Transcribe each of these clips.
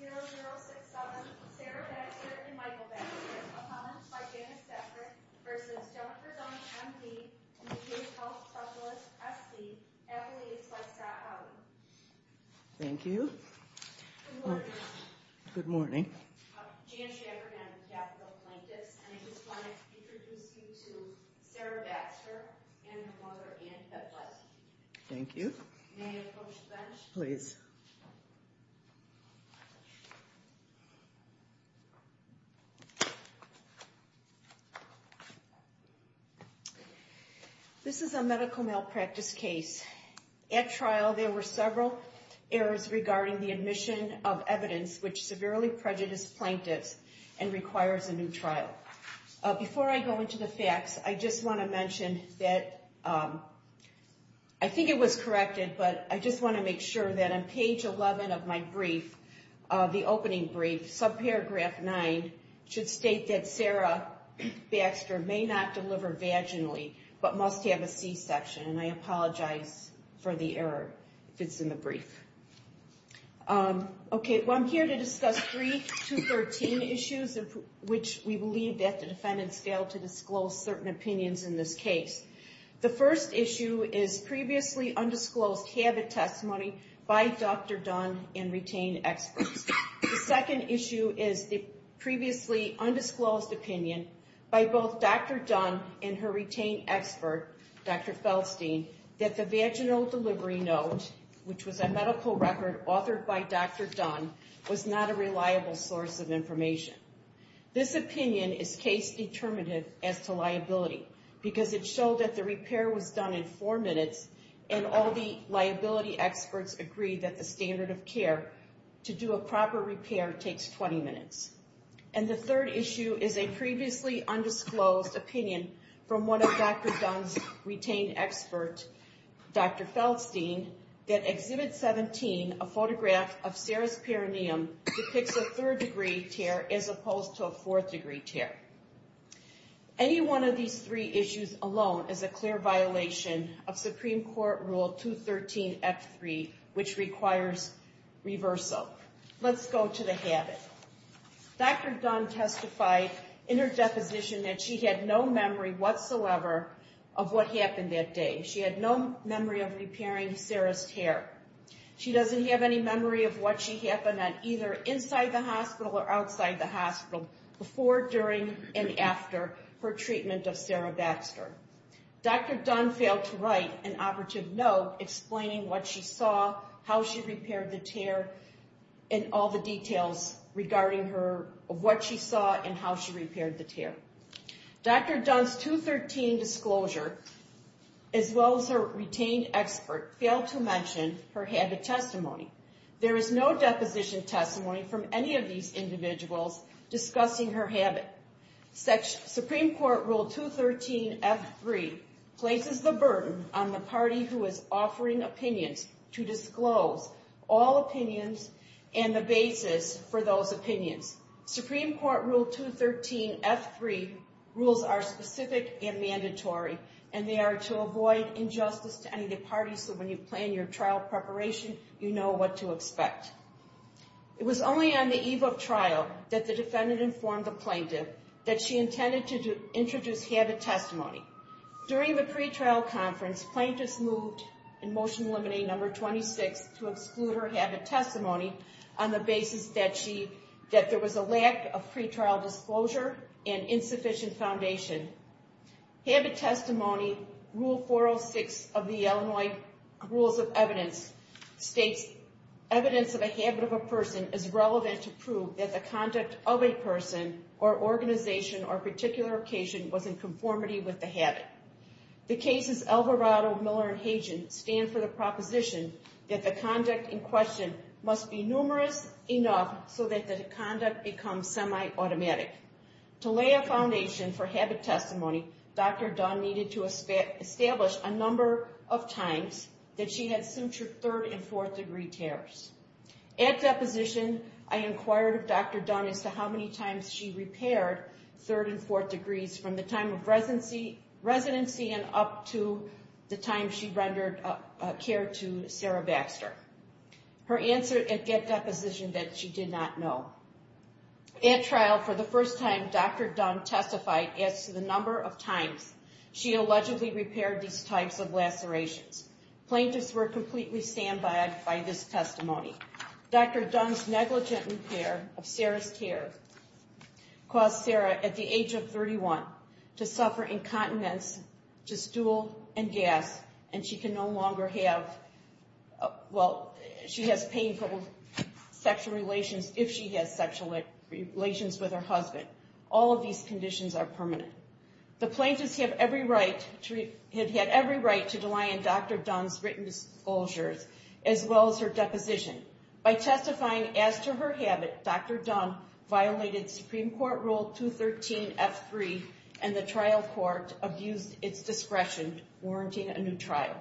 3.3.0067 Sarah Baxter and Michael Baxter, a comment by Janice Stafford v. Jennifer Dunn, M.D., and the Youth Health Specialist, S.D., affiliates by Scott Howley. Thank you. Good morning. Good morning. Jan Schaffer and I'm the Capitol Plaintiffs, and I just wanted to introduce you to Sarah Baxter and her mother, Ann Fetless. Thank you. May I approach the bench? Please. This is a medical malpractice case. At trial, there were several errors regarding the admission of evidence which severely prejudiced plaintiffs and requires a new trial. Before I go into the facts, I just want to mention that I think it was corrected, but I just want to make sure that on page 11 of my brief, the opening brief, subparagraph 9, should state that Sarah Baxter may not deliver vaginally, but must have a C-section. And I apologize for the error if it's in the brief. Okay. Well, I'm here to discuss three 213 issues of which we believe that the defendants failed to disclose certain opinions in this case. The first issue is previously undisclosed habit testimony by Dr. Dunn and retained experts. The second issue is the previously undisclosed opinion by both Dr. Dunn and her retained expert, Dr. Feldstein, that the vaginal delivery note, which was a medical record authored by Dr. Dunn, was not a reliable source of information. This opinion is case determinative as to liability because it showed that the repair was done in four minutes and all the liability experts agreed that the standard of care to do a proper repair takes 20 minutes. And the third issue is a previously undisclosed opinion from one of Dr. Dunn's retained experts, Dr. Feldstein, that Exhibit 17, a photograph of Sarah's perineum, depicts a third degree tear as opposed to a fourth degree tear. Any one of these three issues alone is a clear violation of Supreme Court Rule 213F3, which requires reversal. Let's go to the habit. Dr. Dunn testified in her deposition that she had no memory whatsoever of what happened that day. She had no memory of repairing Sarah's tear. She doesn't have any memory of what she happened on either inside the hospital or outside the hospital before, during, and after her treatment of Sarah Baxter. Dr. Dunn failed to write an operative note explaining what she saw, how she repaired the tear, and all the details regarding what she saw and how she repaired the tear. Dr. Dunn's 213 disclosure, as well as her retained expert, failed to mention her habit testimony. There is no deposition testimony from any of these individuals discussing her habit. Supreme Court Rule 213F3 places the burden on the party who is offering opinions to disclose all opinions and the basis for those opinions. Supreme Court Rule 213F3 rules are specific and mandatory, and they are to avoid injustice to any party, so when you plan your trial preparation, you know what to expect. It was only on the eve of trial that the defendant informed the plaintiff that she intended to introduce habit testimony. During the pretrial conference, plaintiffs moved in Motion Limiting No. 26 to exclude her habit testimony on the basis that there was a lack of pretrial disclosure and insufficient foundation. Habit Testimony Rule 406 of the Illinois Rules of Evidence states evidence of a habit of a person is relevant to prove that the conduct of a person or organization or particular occasion was in conformity with the habit. The cases Alvarado, Miller, and Hagen stand for the proposition that the conduct in question must be numerous enough so that the conduct becomes semi-automatic. To lay a foundation for habit testimony, Dr. Dunn needed to establish a number of times that she had sutured third and fourth degree tears. At deposition, I inquired of Dr. Dunn as to how many times she repaired third and fourth degrees from the time of residency and up to the time she rendered care to Sarah Baxter. Her answer at deposition that she did not know. At trial, for the first time, Dr. Dunn testified as to the number of times she allegedly repaired these types of lacerations. Plaintiffs were completely standby by this testimony. Dr. Dunn's negligent repair of Sarah's care caused Sarah, at the age of 31, to suffer incontinence to stool and gas, and she can no longer have, well, she has painful sexual relations if she has sexual relations with her husband. All of these conditions are permanent. The plaintiffs had every right to rely on Dr. Dunn's written disclosures, as well as her deposition. By testifying as to her habit, Dr. Dunn violated Supreme Court Rule 213F3, and the trial court abused its discretion, warranting a new trial.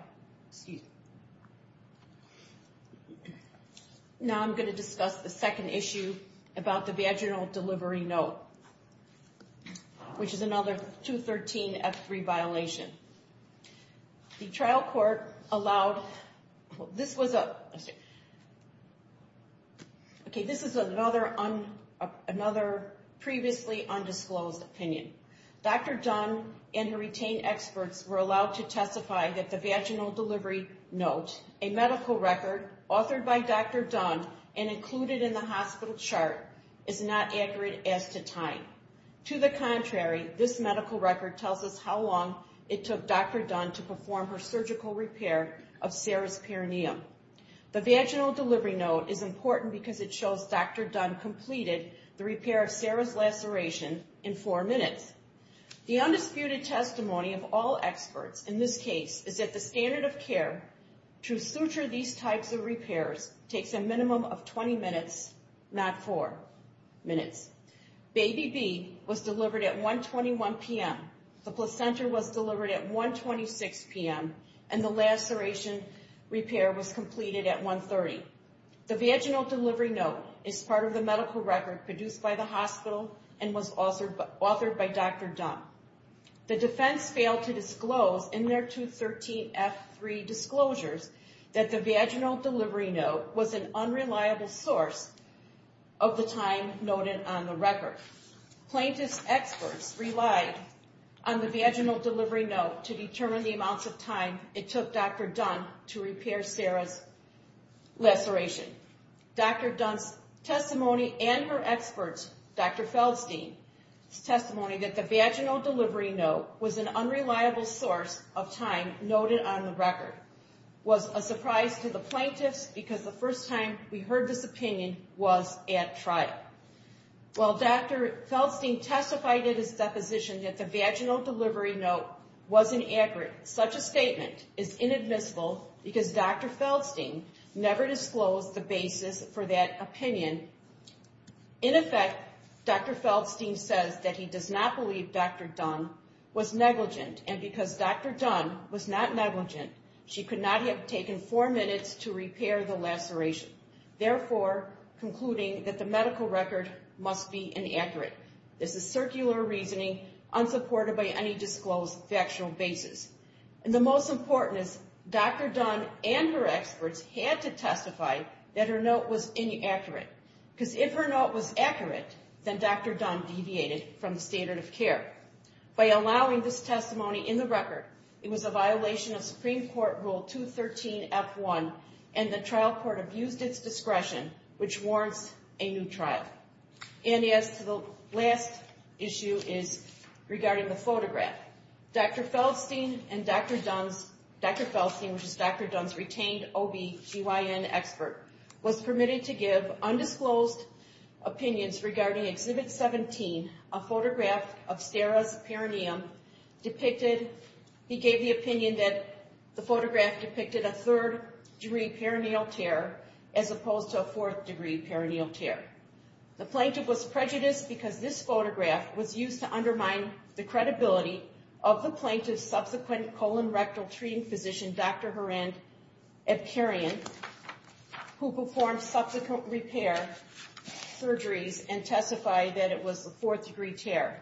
Now I'm going to discuss the second issue about the vaginal delivery note, which is another 213F3 violation. The trial court allowed, this was a, okay, this is another previously undisclosed opinion. Dr. Dunn and her retained experts were allowed to testify that the vaginal delivery note, a medical record authored by Dr. Dunn and included in the hospital chart, is not accurate as to time. To the contrary, this medical record tells us how long it took Dr. Dunn to perform her surgical repair of Sarah's perineum. The vaginal delivery note is important because it shows Dr. Dunn completed the repair of Sarah's laceration in four minutes. The undisputed testimony of all experts in this case is that the standard of care to suture these types of repairs takes a minimum of 20 minutes, not four minutes. Baby B was delivered at 121 p.m., the placenta was delivered at 126 p.m., and the laceration repair was completed at 130. The vaginal delivery note is part of the medical record produced by the hospital and was authored by Dr. Dunn. The defense failed to disclose in their 213F3 disclosures that the vaginal delivery note was an unreliable source of the time noted on the record. Plaintiff's experts relied on the vaginal delivery note to determine the amounts of time it took Dr. Dunn to repair Sarah's laceration. Dr. Dunn's testimony and her experts, Dr. Feldstein's testimony, that the vaginal delivery note was an unreliable source of time noted on the record, was a surprise to the plaintiffs because the first time we heard this opinion was at trial. While Dr. Feldstein testified in his deposition that the vaginal delivery note was inaccurate, such a statement is inadmissible because Dr. Feldstein never disclosed the basis for that opinion. In effect, Dr. Feldstein says that he does not believe Dr. Dunn was negligent, and because Dr. Dunn was not negligent, she could not have taken four minutes to repair the laceration, therefore concluding that the medical record must be inaccurate. This is circular reasoning, unsupported by any disclosed factual basis. And the most important is Dr. Dunn and her experts had to testify that her note was inaccurate, because if her note was accurate, then Dr. Dunn deviated from the standard of care. By allowing this testimony in the record, it was a violation of Supreme Court Rule 213F1, and the trial court abused its discretion, which warrants a new trial. And as to the last issue is regarding the photograph. Dr. Feldstein and Dr. Dunn's, Dr. Feldstein, which is Dr. Dunn's retained OBGYN expert, was permitted to give undisclosed opinions regarding Exhibit 17, a photograph of Sarah's perineum, depicted, he gave the opinion that the photograph depicted a third-degree perineal tear, as opposed to a fourth-degree perineal tear. The plaintiff was prejudiced because this photograph was used to undermine the credibility of the plaintiff's subsequent colon rectal treating physician, Dr. Horan Evkerian, who performed subsequent repair surgeries and testified that it was a fourth-degree tear.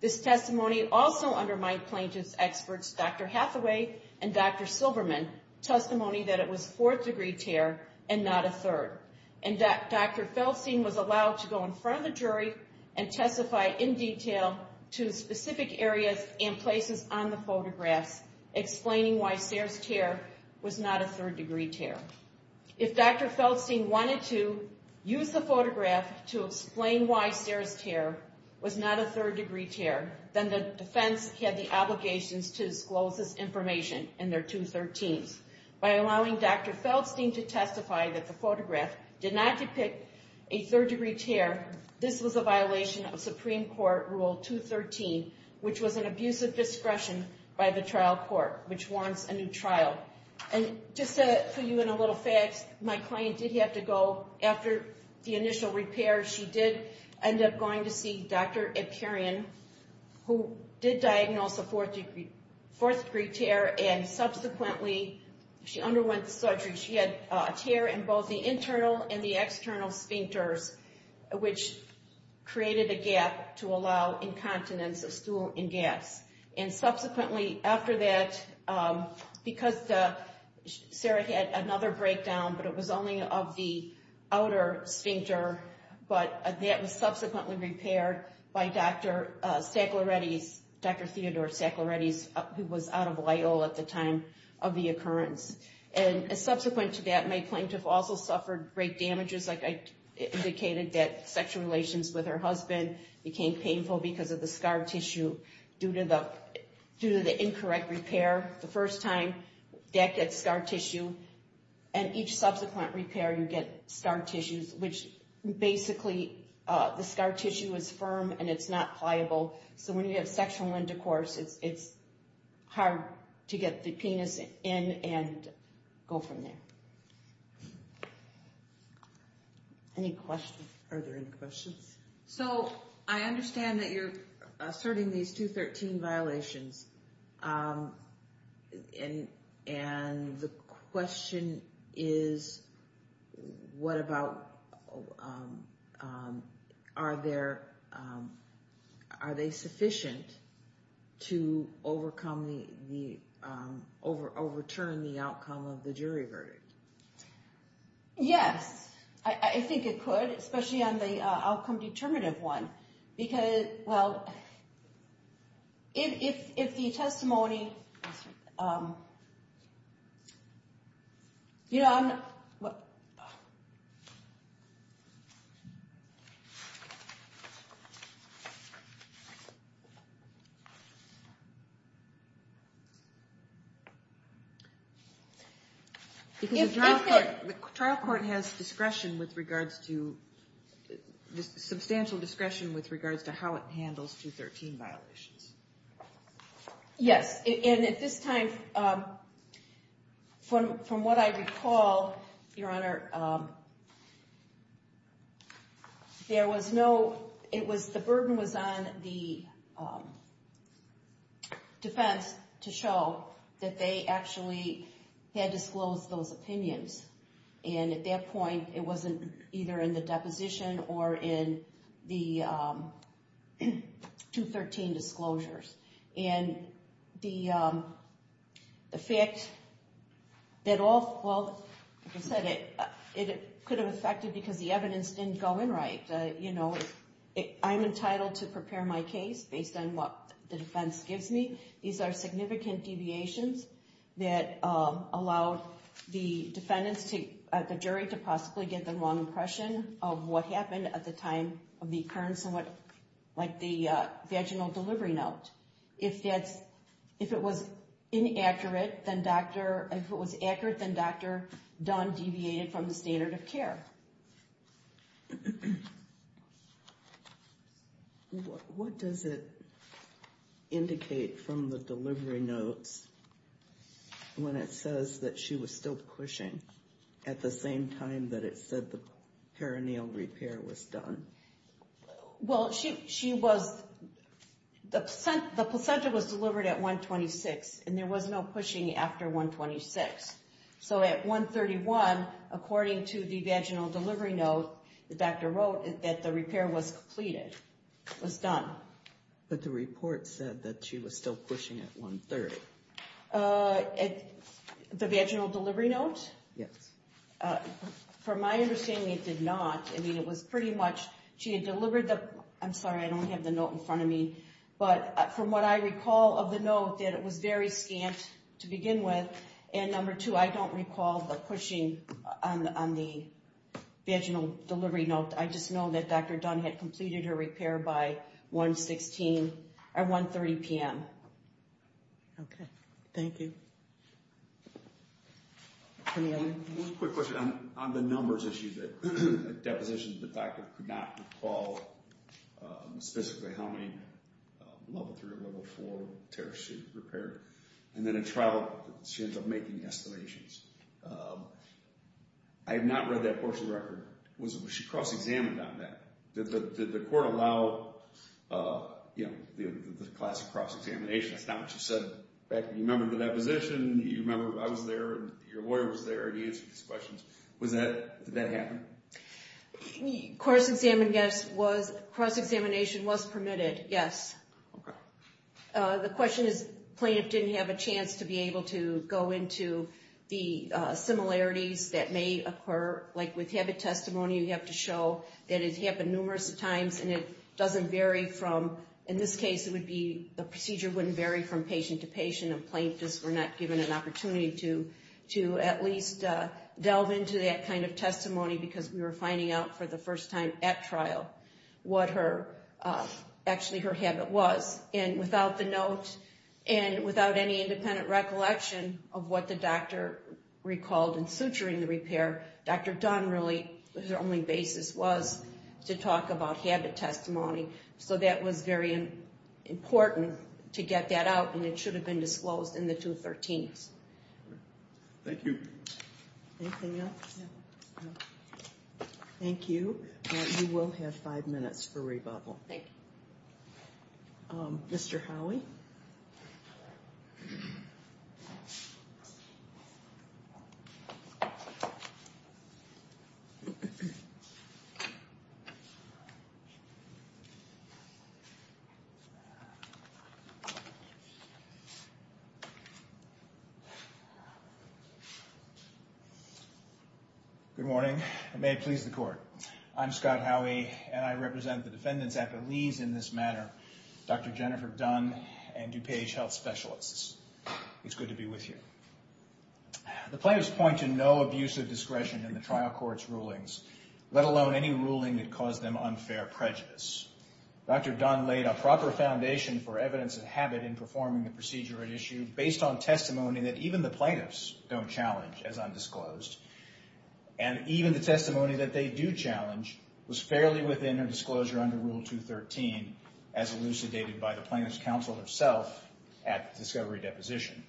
This testimony also undermined plaintiff's experts, Dr. Hathaway and Dr. Silberman, testimony that it was a fourth-degree tear and not a third. And Dr. Feldstein was allowed to go in front of the jury and testify in detail to specific areas and places on the photographs, explaining why Sarah's tear was not a third-degree tear. If Dr. Feldstein wanted to use the photograph to explain why Sarah's tear was not a third-degree tear, then the defense had the obligations to disclose this information in their 213s. By allowing Dr. Feldstein to testify that the photograph did not depict a third-degree tear, this was a violation of Supreme Court Rule 213, which was an abuse of discretion by the trial court, which warrants a new trial. And just to fill you in on a little fact, my client did have to go after the initial repair. She did end up going to see Dr. Evkerian, who did diagnose a fourth-degree tear, and subsequently she underwent surgery. She had a tear in both the internal and the external sphincters, which created a gap to allow incontinence of stool and gas. And subsequently, after that, because Sarah had another breakdown, but it was only of the outer sphincter, but that was subsequently repaired by Dr. Theodore Stackleretti, who was out of Loyola at the time of the occurrence. And subsequent to that, my plaintiff also suffered great damages. Like I indicated, that sexual relations with her husband became painful because of the scar tissue due to the incorrect repair. The first time, that gets scar tissue. And each subsequent repair, you get scar tissues, which basically, the scar tissue is firm and it's not pliable. So when you have sexual intercourse, it's hard to get the penis in and go from there. Any questions? Are there any questions? So I understand that you're asserting these 213 violations. And the question is, what about, are there, are they sufficient to overcome the, overturn the outcome of the jury verdict? Yes, I think it could, especially on the outcome determinative one. Because, well, if the testimony, you know, I'm, what? Because the trial court has discretion with regards to, substantial discretion with regards to how it handles 213 violations. Yes, and at this time, from what I recall, Your Honor, there was no, it was, the burden was on the defense to show that they actually had disclosed those opinions. And at that point, it wasn't either in the deposition or in the 213 disclosures. And the fact that all, well, like I said, it could have affected because the evidence didn't go in right. You know, I'm entitled to prepare my case based on what the defense gives me. These are significant deviations that allowed the defendants to, the jury to possibly get the wrong impression of what happened at the time of the occurrence and what, like the vaginal delivery note. If that's, if it was inaccurate, then Dr., if it was accurate, then Dr. Dunn deviated from the standard of care. What does it indicate from the delivery notes when it says that she was still pushing at the same time that it said the perineal repair was done? Well, she was, the placenta was delivered at 126 and there was no pushing after 126. So at 131, according to the vaginal delivery note, the doctor wrote that the repair was completed, was done. But the report said that she was still pushing at 130. The vaginal delivery note? Yes. From my understanding, it did not. I mean, it was pretty much, she had delivered the, I'm sorry, I don't have the note in front of me. But from what I recall of the note, that it was very scant to begin with. And number two, I don't recall the pushing on the vaginal delivery note. I just know that Dr. Dunn had completed her repair by 116, at 130 p.m. Okay. Thank you. One quick question. On the numbers issue, the deposition, the doctor could not recall specifically how many level three or level four tears she repaired. And then in trial, she ends up making estimations. I have not read that portion of the record. Was she cross-examined on that? Did the court allow, you know, the classic cross-examination? That's not what you said. You remember the deposition, you remember I was there, your lawyer was there to answer these questions. Did that happen? Cross-examination was permitted, yes. Okay. The question is, plaintiff didn't have a chance to be able to go into the similarities that may occur. Like with habit testimony, you have to show that it's happened numerous times and it doesn't vary from, in this case it would be the procedure wouldn't vary from patient to patient, and plaintiffs were not given an opportunity to at least delve into that kind of testimony because we were finding out for the first time at trial what her, actually her habit was. And without the note and without any independent recollection of what the doctor recalled in suturing the repair, Dr. Dunn really, her only basis was to talk about habit testimony. So that was very important to get that out, and it should have been disclosed in the 213s. Thank you. Anything else? Thank you. You will have five minutes for rebuttal. Thank you. Mr. Howey. Good morning. May it please the court. I'm Scott Howey, and I represent the defendants' affilies in this matter, Dr. Jennifer Dunn and DuPage Health Specialists. It's good to be with you. The plaintiffs point to no abuse of discretion in the trial court's rulings, let alone any ruling that caused them unfair prejudice. Dr. Dunn laid a proper foundation for evidence of habit in performing the procedure at issue based on testimony that even the plaintiffs don't challenge as undisclosed, and even the testimony that they do challenge was fairly within her disclosure under Rule 213, as elucidated by the plaintiff's counsel herself at the discovery deposition.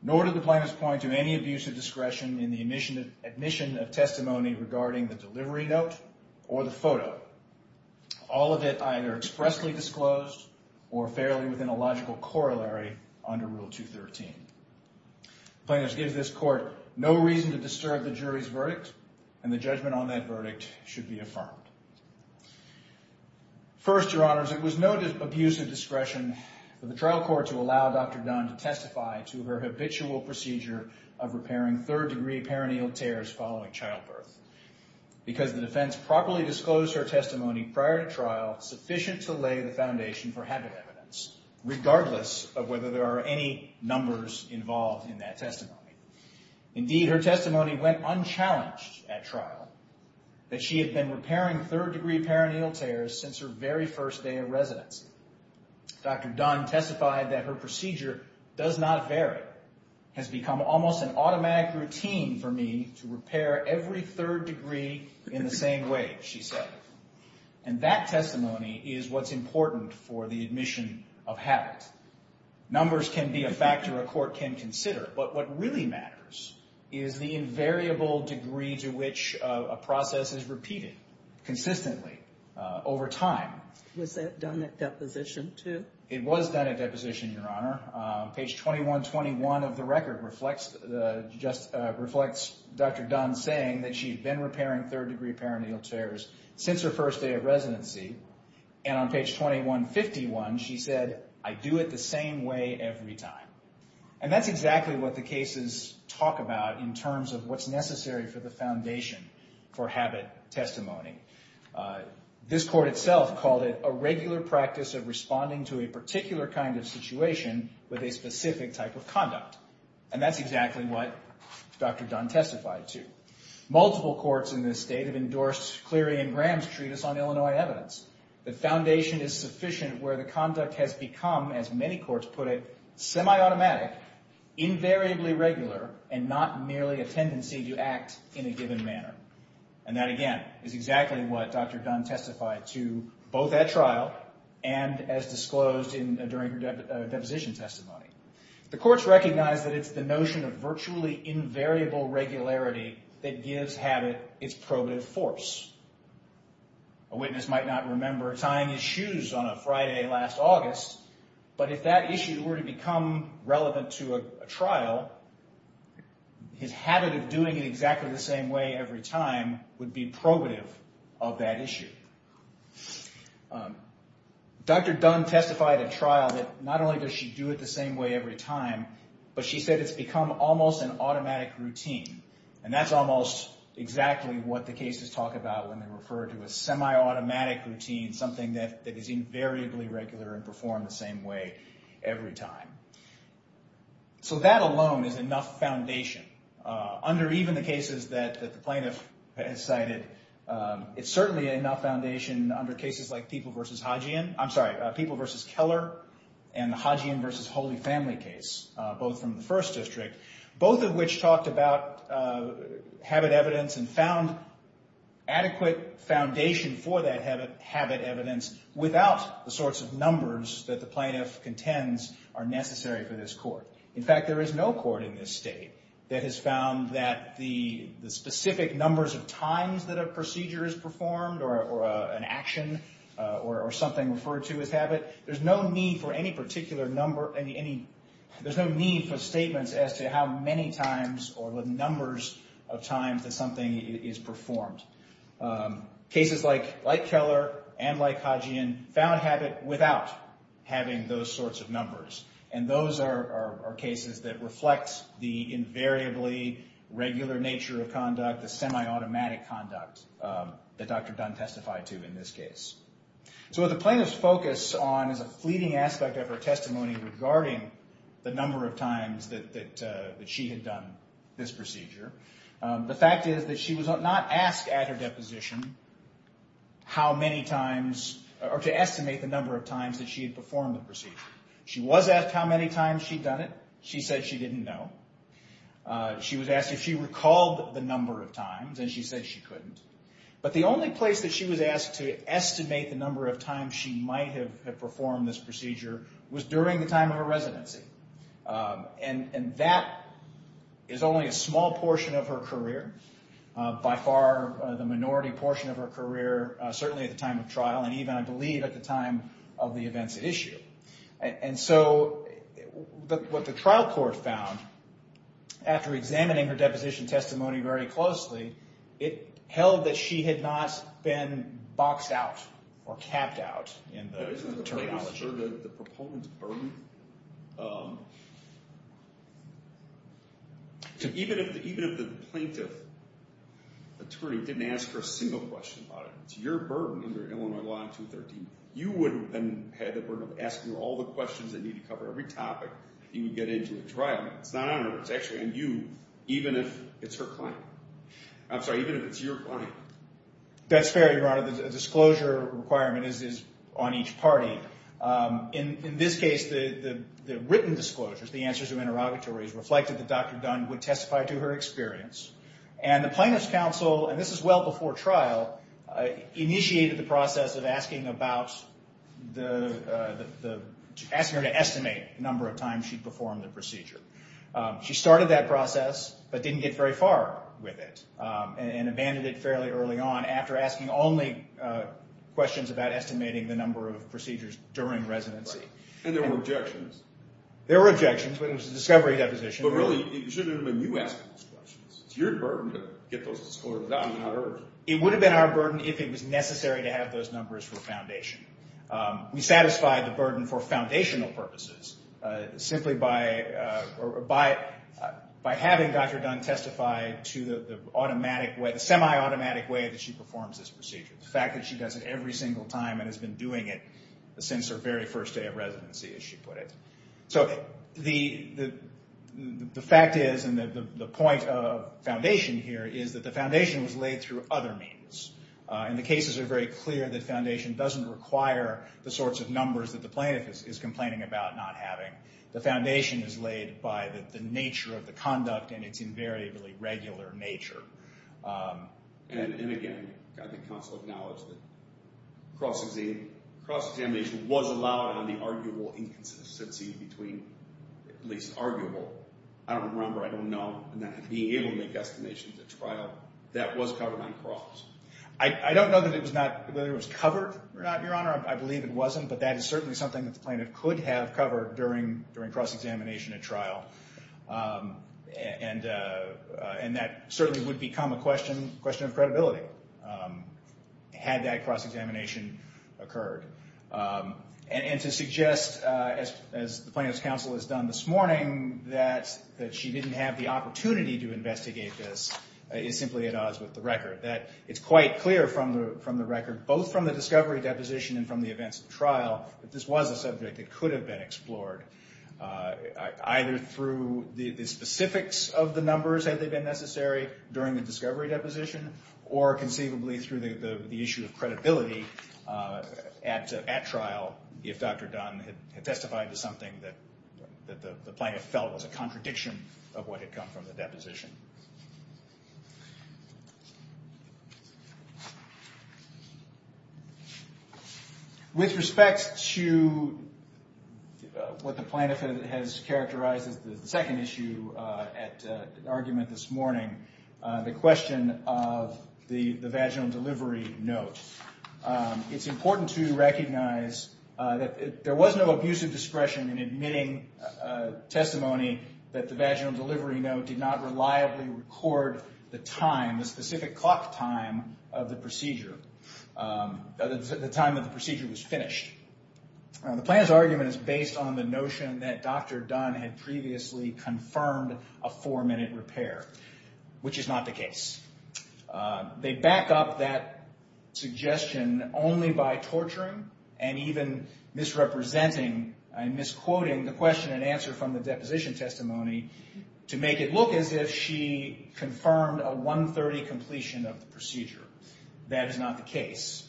Nor did the plaintiffs point to any abuse of discretion in the admission of testimony regarding the delivery note or the photo, all of it either expressly disclosed or fairly within a logical corollary under Rule 213. The plaintiffs give this court no reason to disturb the jury's verdict, and the judgment on that verdict should be affirmed. First, Your Honors, it was no abuse of discretion for the trial court to allow Dr. Dunn to testify to her habitual procedure of repairing third-degree perineal tears following childbirth, because the defense properly disclosed her testimony prior to trial sufficient to lay the foundation for habit evidence, regardless of whether there are any numbers involved in that testimony. Indeed, her testimony went unchallenged at trial, that she had been repairing third-degree perineal tears since her very first day of residency. Dr. Dunn testified that her procedure does not vary, has become almost an automatic routine for me to repair every third degree in the same way, she said. And that testimony is what's important for the admission of habit. Numbers can be a factor a court can consider, but what really matters is the invariable degree to which a process is repeated consistently over time. Was that done at deposition, too? It was done at deposition, Your Honor. Page 2121 of the record reflects Dr. Dunn saying that she had been repairing third-degree perineal tears since her first day of residency, and on page 2151, she said, I do it the same way every time. And that's exactly what the cases talk about in terms of what's necessary for the foundation for habit testimony. This court itself called it a regular practice of responding to a particular kind of situation with a specific type of conduct. And that's exactly what Dr. Dunn testified to. Multiple courts in this state have endorsed Cleary and Graham's treatise on Illinois evidence, that foundation is sufficient where the conduct has become, as many courts put it, semi-automatic, invariably regular, and not merely a tendency to act in a given manner. And that, again, is exactly what Dr. Dunn testified to both at trial and as disclosed during her deposition testimony. The courts recognize that it's the notion of virtually invariable regularity that gives habit its probative force. A witness might not remember tying his shoes on a Friday last August, but if that issue were to become relevant to a trial, his habit of doing it exactly the same way every time would be probative of that issue. Dr. Dunn testified at trial that not only does she do it the same way every time, but she said it's become almost an automatic routine. And that's almost exactly what the cases talk about when they refer to a semi-automatic routine, something that is invariably regular and performed the same way every time. So that alone is enough foundation. Under even the cases that the plaintiff has cited, it's certainly enough foundation under cases like People v. Keller and the Hodgian v. Holy Family case, both from the First District, both of which talked about habit evidence and found adequate foundation for that habit evidence without the sorts of numbers that the plaintiff contends are necessary for this court. In fact, there is no court in this state that has found that the specific numbers of times that a procedure is performed or an action or something referred to as habit, there's no need for any particular number, there's no need for statements as to how many times or the numbers of times that something is performed. Cases like Keller and like Hodgian found habit without having those sorts of numbers. And those are cases that reflect the invariably regular nature of conduct, the semi-automatic conduct that Dr. Dunn testified to in this case. So what the plaintiff's focus on is a fleeting aspect of her testimony regarding the number of times that she had done this procedure. The fact is that she was not asked at her deposition how many times, or to estimate the number of times that she had performed the procedure. She was asked how many times she'd done it. She said she didn't know. She was asked if she recalled the number of times, and she said she couldn't. But the only place that she was asked to estimate the number of times she might have performed this procedure was during the time of her residency. And that is only a small portion of her career, by far the minority portion of her career, certainly at the time of trial, and even, I believe, at the time of the events at issue. And so what the trial court found, after examining her deposition testimony very closely, it held that she had not been boxed out or capped out in the terminology. I'm not sure the proponent's burden. Even if the plaintiff attorney didn't ask her a single question about it, it's your burden under Illinois Law 213. You would have had the burden of asking her all the questions that need to cover every topic if you could get into a trial. It's not on her. It's actually on you, even if it's her client. I'm sorry, even if it's your client. That's fair, Your Honor. The disclosure requirement is on each party. In this case, the written disclosures, the answers to interrogatories, reflected that Dr. Dunn would testify to her experience. And the plaintiff's counsel, and this is well before trial, initiated the process of asking her to estimate the number of times she'd performed the procedure. She started that process but didn't get very far with it and abandoned it fairly early on after asking only questions about estimating the number of procedures during residency. And there were objections. There were objections, but it was a discovery deposition. But really, it should have been you asking those questions. It's your burden to get those disclosures out. It would have been our burden if it was necessary to have those numbers for foundation. We satisfied the burden for foundational purposes simply by having Dr. Dunn testify to the semiautomatic way that she performs this procedure, the fact that she does it every single time and has been doing it since her very first day of residency, as she put it. So the fact is, and the point of foundation here, is that the foundation was laid through other means. And the cases are very clear that foundation doesn't require the sorts of numbers that the plaintiff is complaining about not having. The foundation is laid by the nature of the conduct and its invariably regular nature. And again, got the counsel to acknowledge that cross-examination was allowed on the arguable inconsistency between, at least arguable, I don't remember, I don't know, and that being able to make estimations at trial, that was covered on cross. I don't know that it was not, whether it was covered or not, Your Honor. I believe it wasn't. But that is certainly something that the plaintiff could have covered during cross-examination at trial. And that certainly would become a question of credibility had that cross-examination occurred. And to suggest, as the plaintiff's counsel has done this morning, that she didn't have the opportunity to investigate this is simply at odds with the record. That it's quite clear from the record, both from the discovery deposition and from the events of trial, that this was a subject that could have been explored, either through the specifics of the numbers had they been necessary during the discovery deposition, or conceivably through the issue of credibility at trial, if Dr. Dunn had testified to something that the plaintiff felt was a contradiction of what had come from the deposition. With respect to what the plaintiff has characterized as the second issue at argument this morning, the question of the vaginal delivery note, it's important to recognize that there was no abusive discretion in admitting testimony that the vaginal delivery note did not reliably record the time, the specific clock time of the procedure, the time that the procedure was finished. The plaintiff's argument is based on the notion that Dr. Dunn had previously confirmed a four-minute repair. Which is not the case. They back up that suggestion only by torturing and even misrepresenting and misquoting the question and answer from the deposition testimony to make it look as if she confirmed a 1.30 completion of the procedure. That is not the case.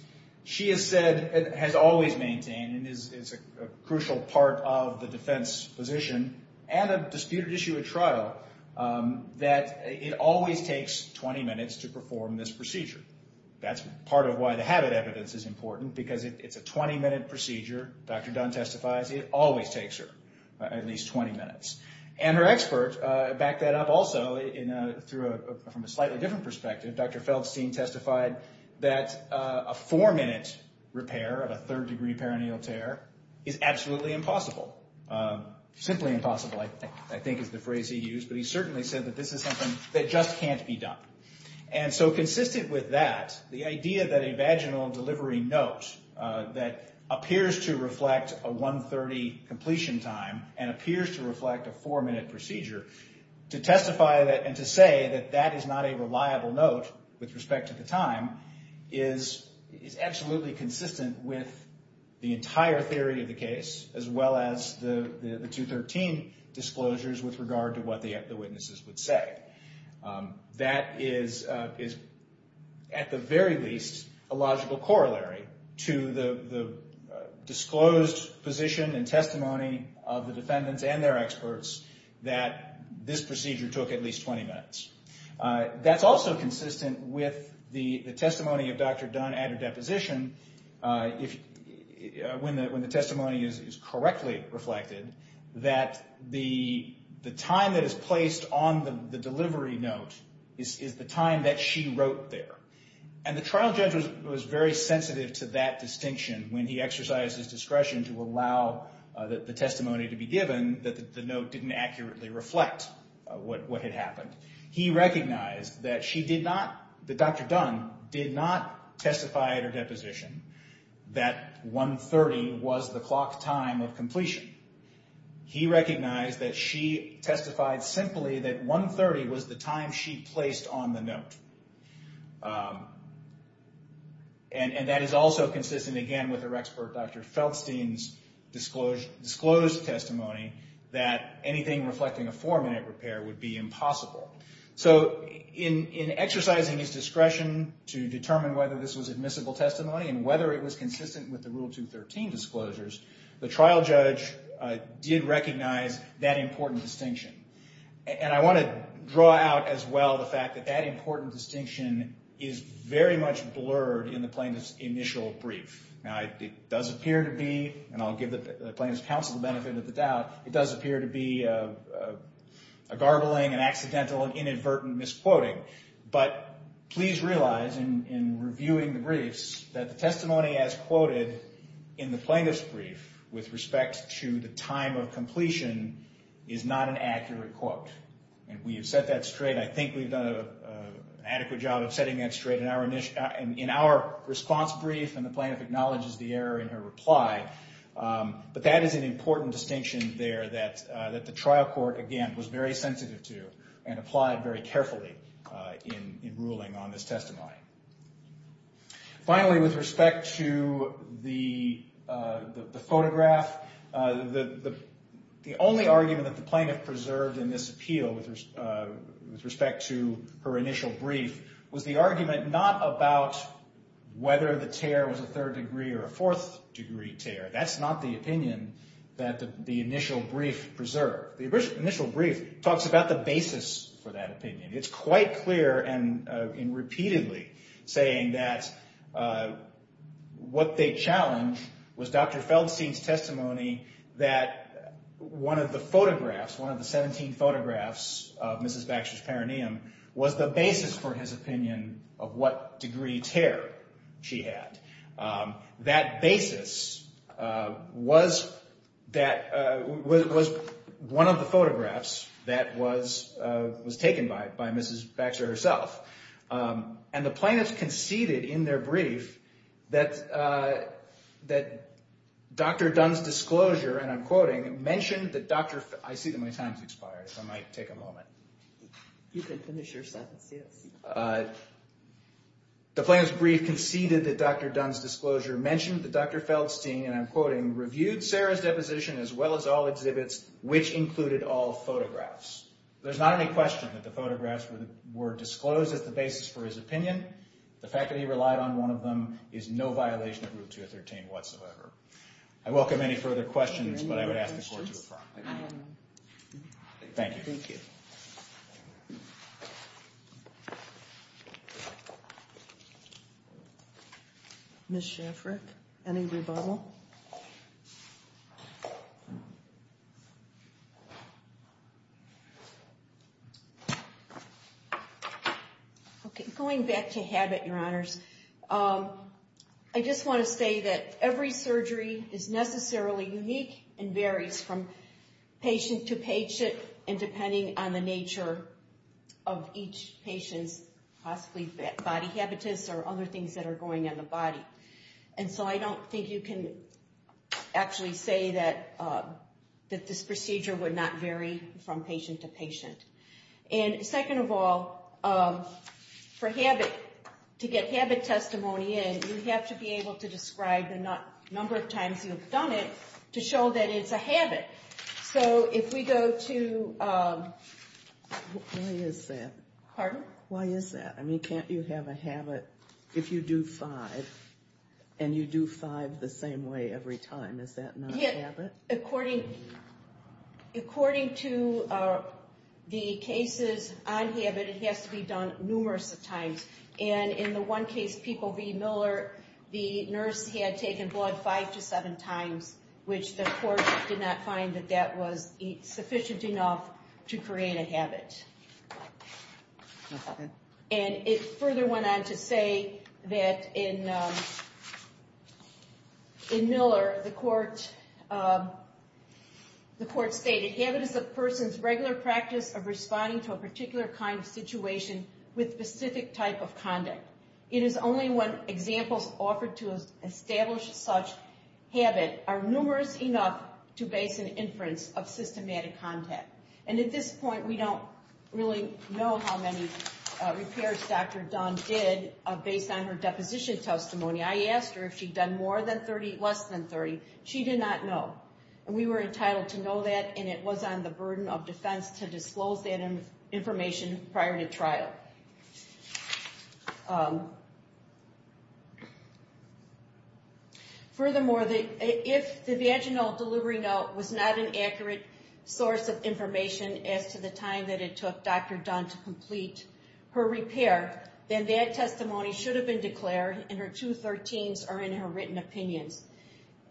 She has said, has always maintained, and is a crucial part of the defense position, and a disputed issue at trial, that it always takes 20 minutes to perform this procedure. That's part of why the habit evidence is important, because it's a 20-minute procedure. Dr. Dunn testifies it always takes her at least 20 minutes. And her expert backed that up also from a slightly different perspective. Dr. Feldstein testified that a four-minute repair of a third-degree perineal tear is absolutely impossible. Simply impossible, I think, is the phrase he used. But he certainly said that this is something that just can't be done. And so consistent with that, the idea that a vaginal delivery note that appears to reflect a 1.30 completion time and appears to reflect a four-minute procedure, to testify and to say that that is not a reliable note with respect to the time is absolutely consistent with the entire theory of the case, as well as the 213 disclosures with regard to what the witnesses would say. That is, at the very least, a logical corollary to the disclosed position and testimony of the defendants and their experts that this procedure took at least 20 minutes. That's also consistent with the testimony of Dr. Dunn at her deposition, when the testimony is correctly reflected, that the time that is placed on the delivery note is the time that she wrote there. And the trial judge was very sensitive to that distinction when he exercised his discretion to allow the testimony to be given, that the note didn't accurately reflect what had happened. He recognized that Dr. Dunn did not testify at her deposition that 1.30 was the clock time of completion. He recognized that she testified simply that 1.30 was the time she placed on the note. And that is also consistent, again, with her expert Dr. Feldstein's disclosed testimony that anything reflecting a four-minute repair would be impossible. So in exercising his discretion to determine whether this was admissible testimony and whether it was consistent with the Rule 213 disclosures, the trial judge did recognize that important distinction. And I want to draw out as well the fact that that important distinction is very much blurred in the plaintiff's initial brief. Now it does appear to be, and I'll give the plaintiff's counsel the benefit of the doubt, it does appear to be a garbling and accidental and inadvertent misquoting. But please realize in reviewing the briefs that the testimony as quoted in the plaintiff's brief with respect to the time of completion is not an accurate quote. And we have set that straight. I think we've done an adequate job of setting that straight in our response brief and the plaintiff acknowledges the error in her reply. But that is an important distinction there that the trial court, again, was very sensitive to and applied very carefully in ruling on this testimony. Finally, with respect to the photograph, the only argument that the plaintiff preserved in this appeal with respect to her initial brief was the argument not about whether the tear was a third degree or a fourth degree tear. That's not the opinion that the initial brief preserved. The initial brief talks about the basis for that opinion. It's quite clear in repeatedly saying that what they challenge was Dr. Feldstein's testimony that one of the photographs, one of the 17 photographs of Mrs. Baxter's perineum, was the basis for his opinion of what degree tear she had. That basis was one of the photographs that was taken by Mrs. Baxter herself. And the plaintiff conceded in their brief that Dr. Dunn's disclosure, and I'm quoting, mentioned that Dr.—I see that my time has expired, so I might take a moment. You can finish your sentence, yes. The plaintiff's brief conceded that Dr. Dunn's disclosure mentioned that Dr. Feldstein, and I'm quoting, reviewed Sarah's deposition as well as all exhibits, which included all photographs. There's not any question that the photographs were disclosed as the basis for his opinion. The fact that he relied on one of them is no violation of Rule 213 whatsoever. I welcome any further questions, but I would ask the court to affirm. Thank you. Ms. Shafrick, any rebuttal? Okay, going back to habit, Your Honors, I just want to say that every surgery is necessarily unique and varies from patient to patient and depending on the nature of each patient's possibly body habitus or other things that are going on the body. And so I don't think you can actually say that this procedure would not vary from patient to patient. And second of all, for habit, to get habit testimony in, you have to be able to describe the number of times you've done it to show that it's a habit. So if we go to... Why is that? Pardon? Why is that? I mean, can't you have a habit if you do five and you do five the same way every time? Is that not a habit? According to the cases on habit, it has to be done numerous times. And in the one case, People v. Miller, the nurse had taken blood five to seven times, which the court did not find that that was sufficient enough to create a habit. And it further went on to say that in Miller, the court stated, Habit is a person's regular practice of responding to a particular kind of situation with specific type of conduct. It is only when examples offered to establish such habit are numerous enough to base an inference of systematic contact. And at this point, we don't really know how many repairs Dr. Dunn did based on her deposition testimony. I asked her if she'd done more than 30, less than 30. She did not know. And we were entitled to know that, and it was on the burden of defense to disclose that information prior to trial. Furthermore, if the vaginal delivery note was not an accurate source of information as to the time that it took Dr. Dunn to complete her repair, then that testimony should have been declared in her 213s or in her written opinions.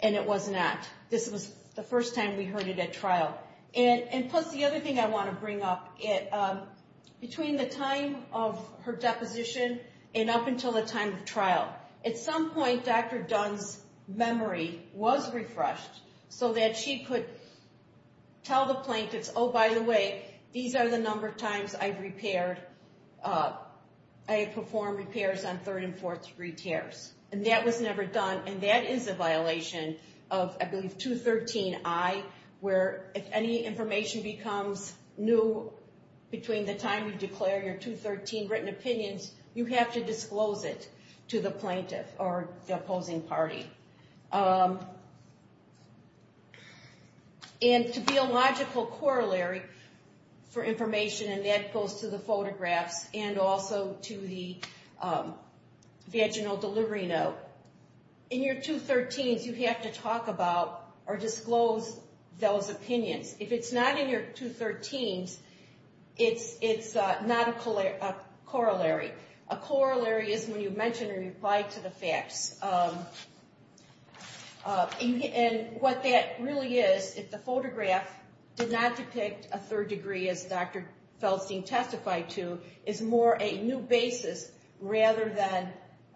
And it was not. This was the first time we heard it at trial. And plus, the other thing I want to bring up, between the time of her deposition and up until the time of trial, at some point, Dr. Dunn's memory was refreshed so that she could tell the plaintiffs, Oh, by the way, these are the number of times I've repaired. I have performed repairs on third and fourth degree tears. And that was never done, and that is a violation of, I believe, 213i, where if any information becomes new between the time you declare your 213 written opinions, you have to disclose it to the plaintiff or the opposing party. And to be a logical corollary for information, and that goes to the photographs and also to the vaginal delivery note, in your 213s, you have to talk about or disclose those opinions. If it's not in your 213s, it's not a corollary. A corollary is when you mention or reply to the facts. And what that really is, if the photograph did not depict a third degree, as Dr. Feldstein testified to, is more a new basis rather than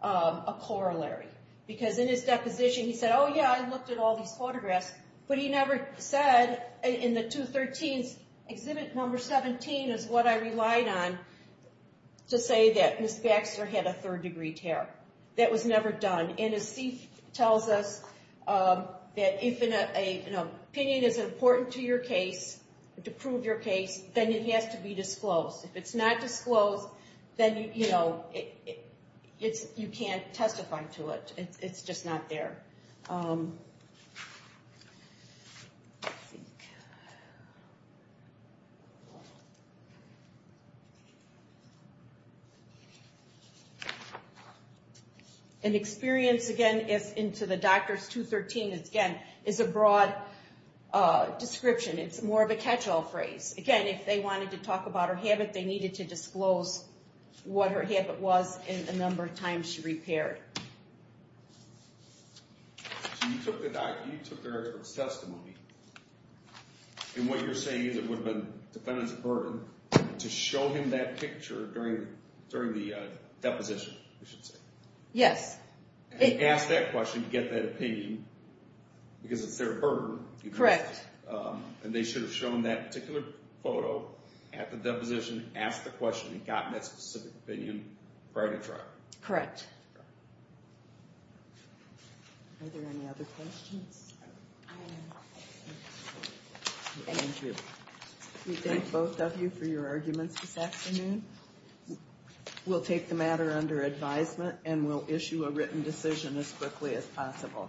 a corollary. Because in his deposition, he said, Oh, yeah, I looked at all these photographs, but he never said in the 213s, exhibit number 17 is what I relied on to say that Ms. Baxter had a third degree tear. That was never done. And as Steve tells us, that if an opinion is important to your case, to prove your case, then it has to be disclosed. If it's not disclosed, then, you know, you can't testify to it. It's just not there. An experience, again, into the Doctors' 213, again, is a broad description. It's more of a catch-all phrase. Again, if they wanted to talk about her habit, they needed to disclose what her habit was and the number of times she repaired. So you took the doctor's testimony. And what you're saying is it would have been defendant's burden to show him that picture during the deposition, you should say. Yes. And ask that question, get that opinion, because it's their burden. Correct. And they should have shown that particular photo at the deposition, asked the question, and gotten that specific opinion prior to trial. Correct. Are there any other questions? I am. Thank you. We thank both of you for your arguments this afternoon. We'll take the matter under advisement and we'll issue a written decision as quickly as possible.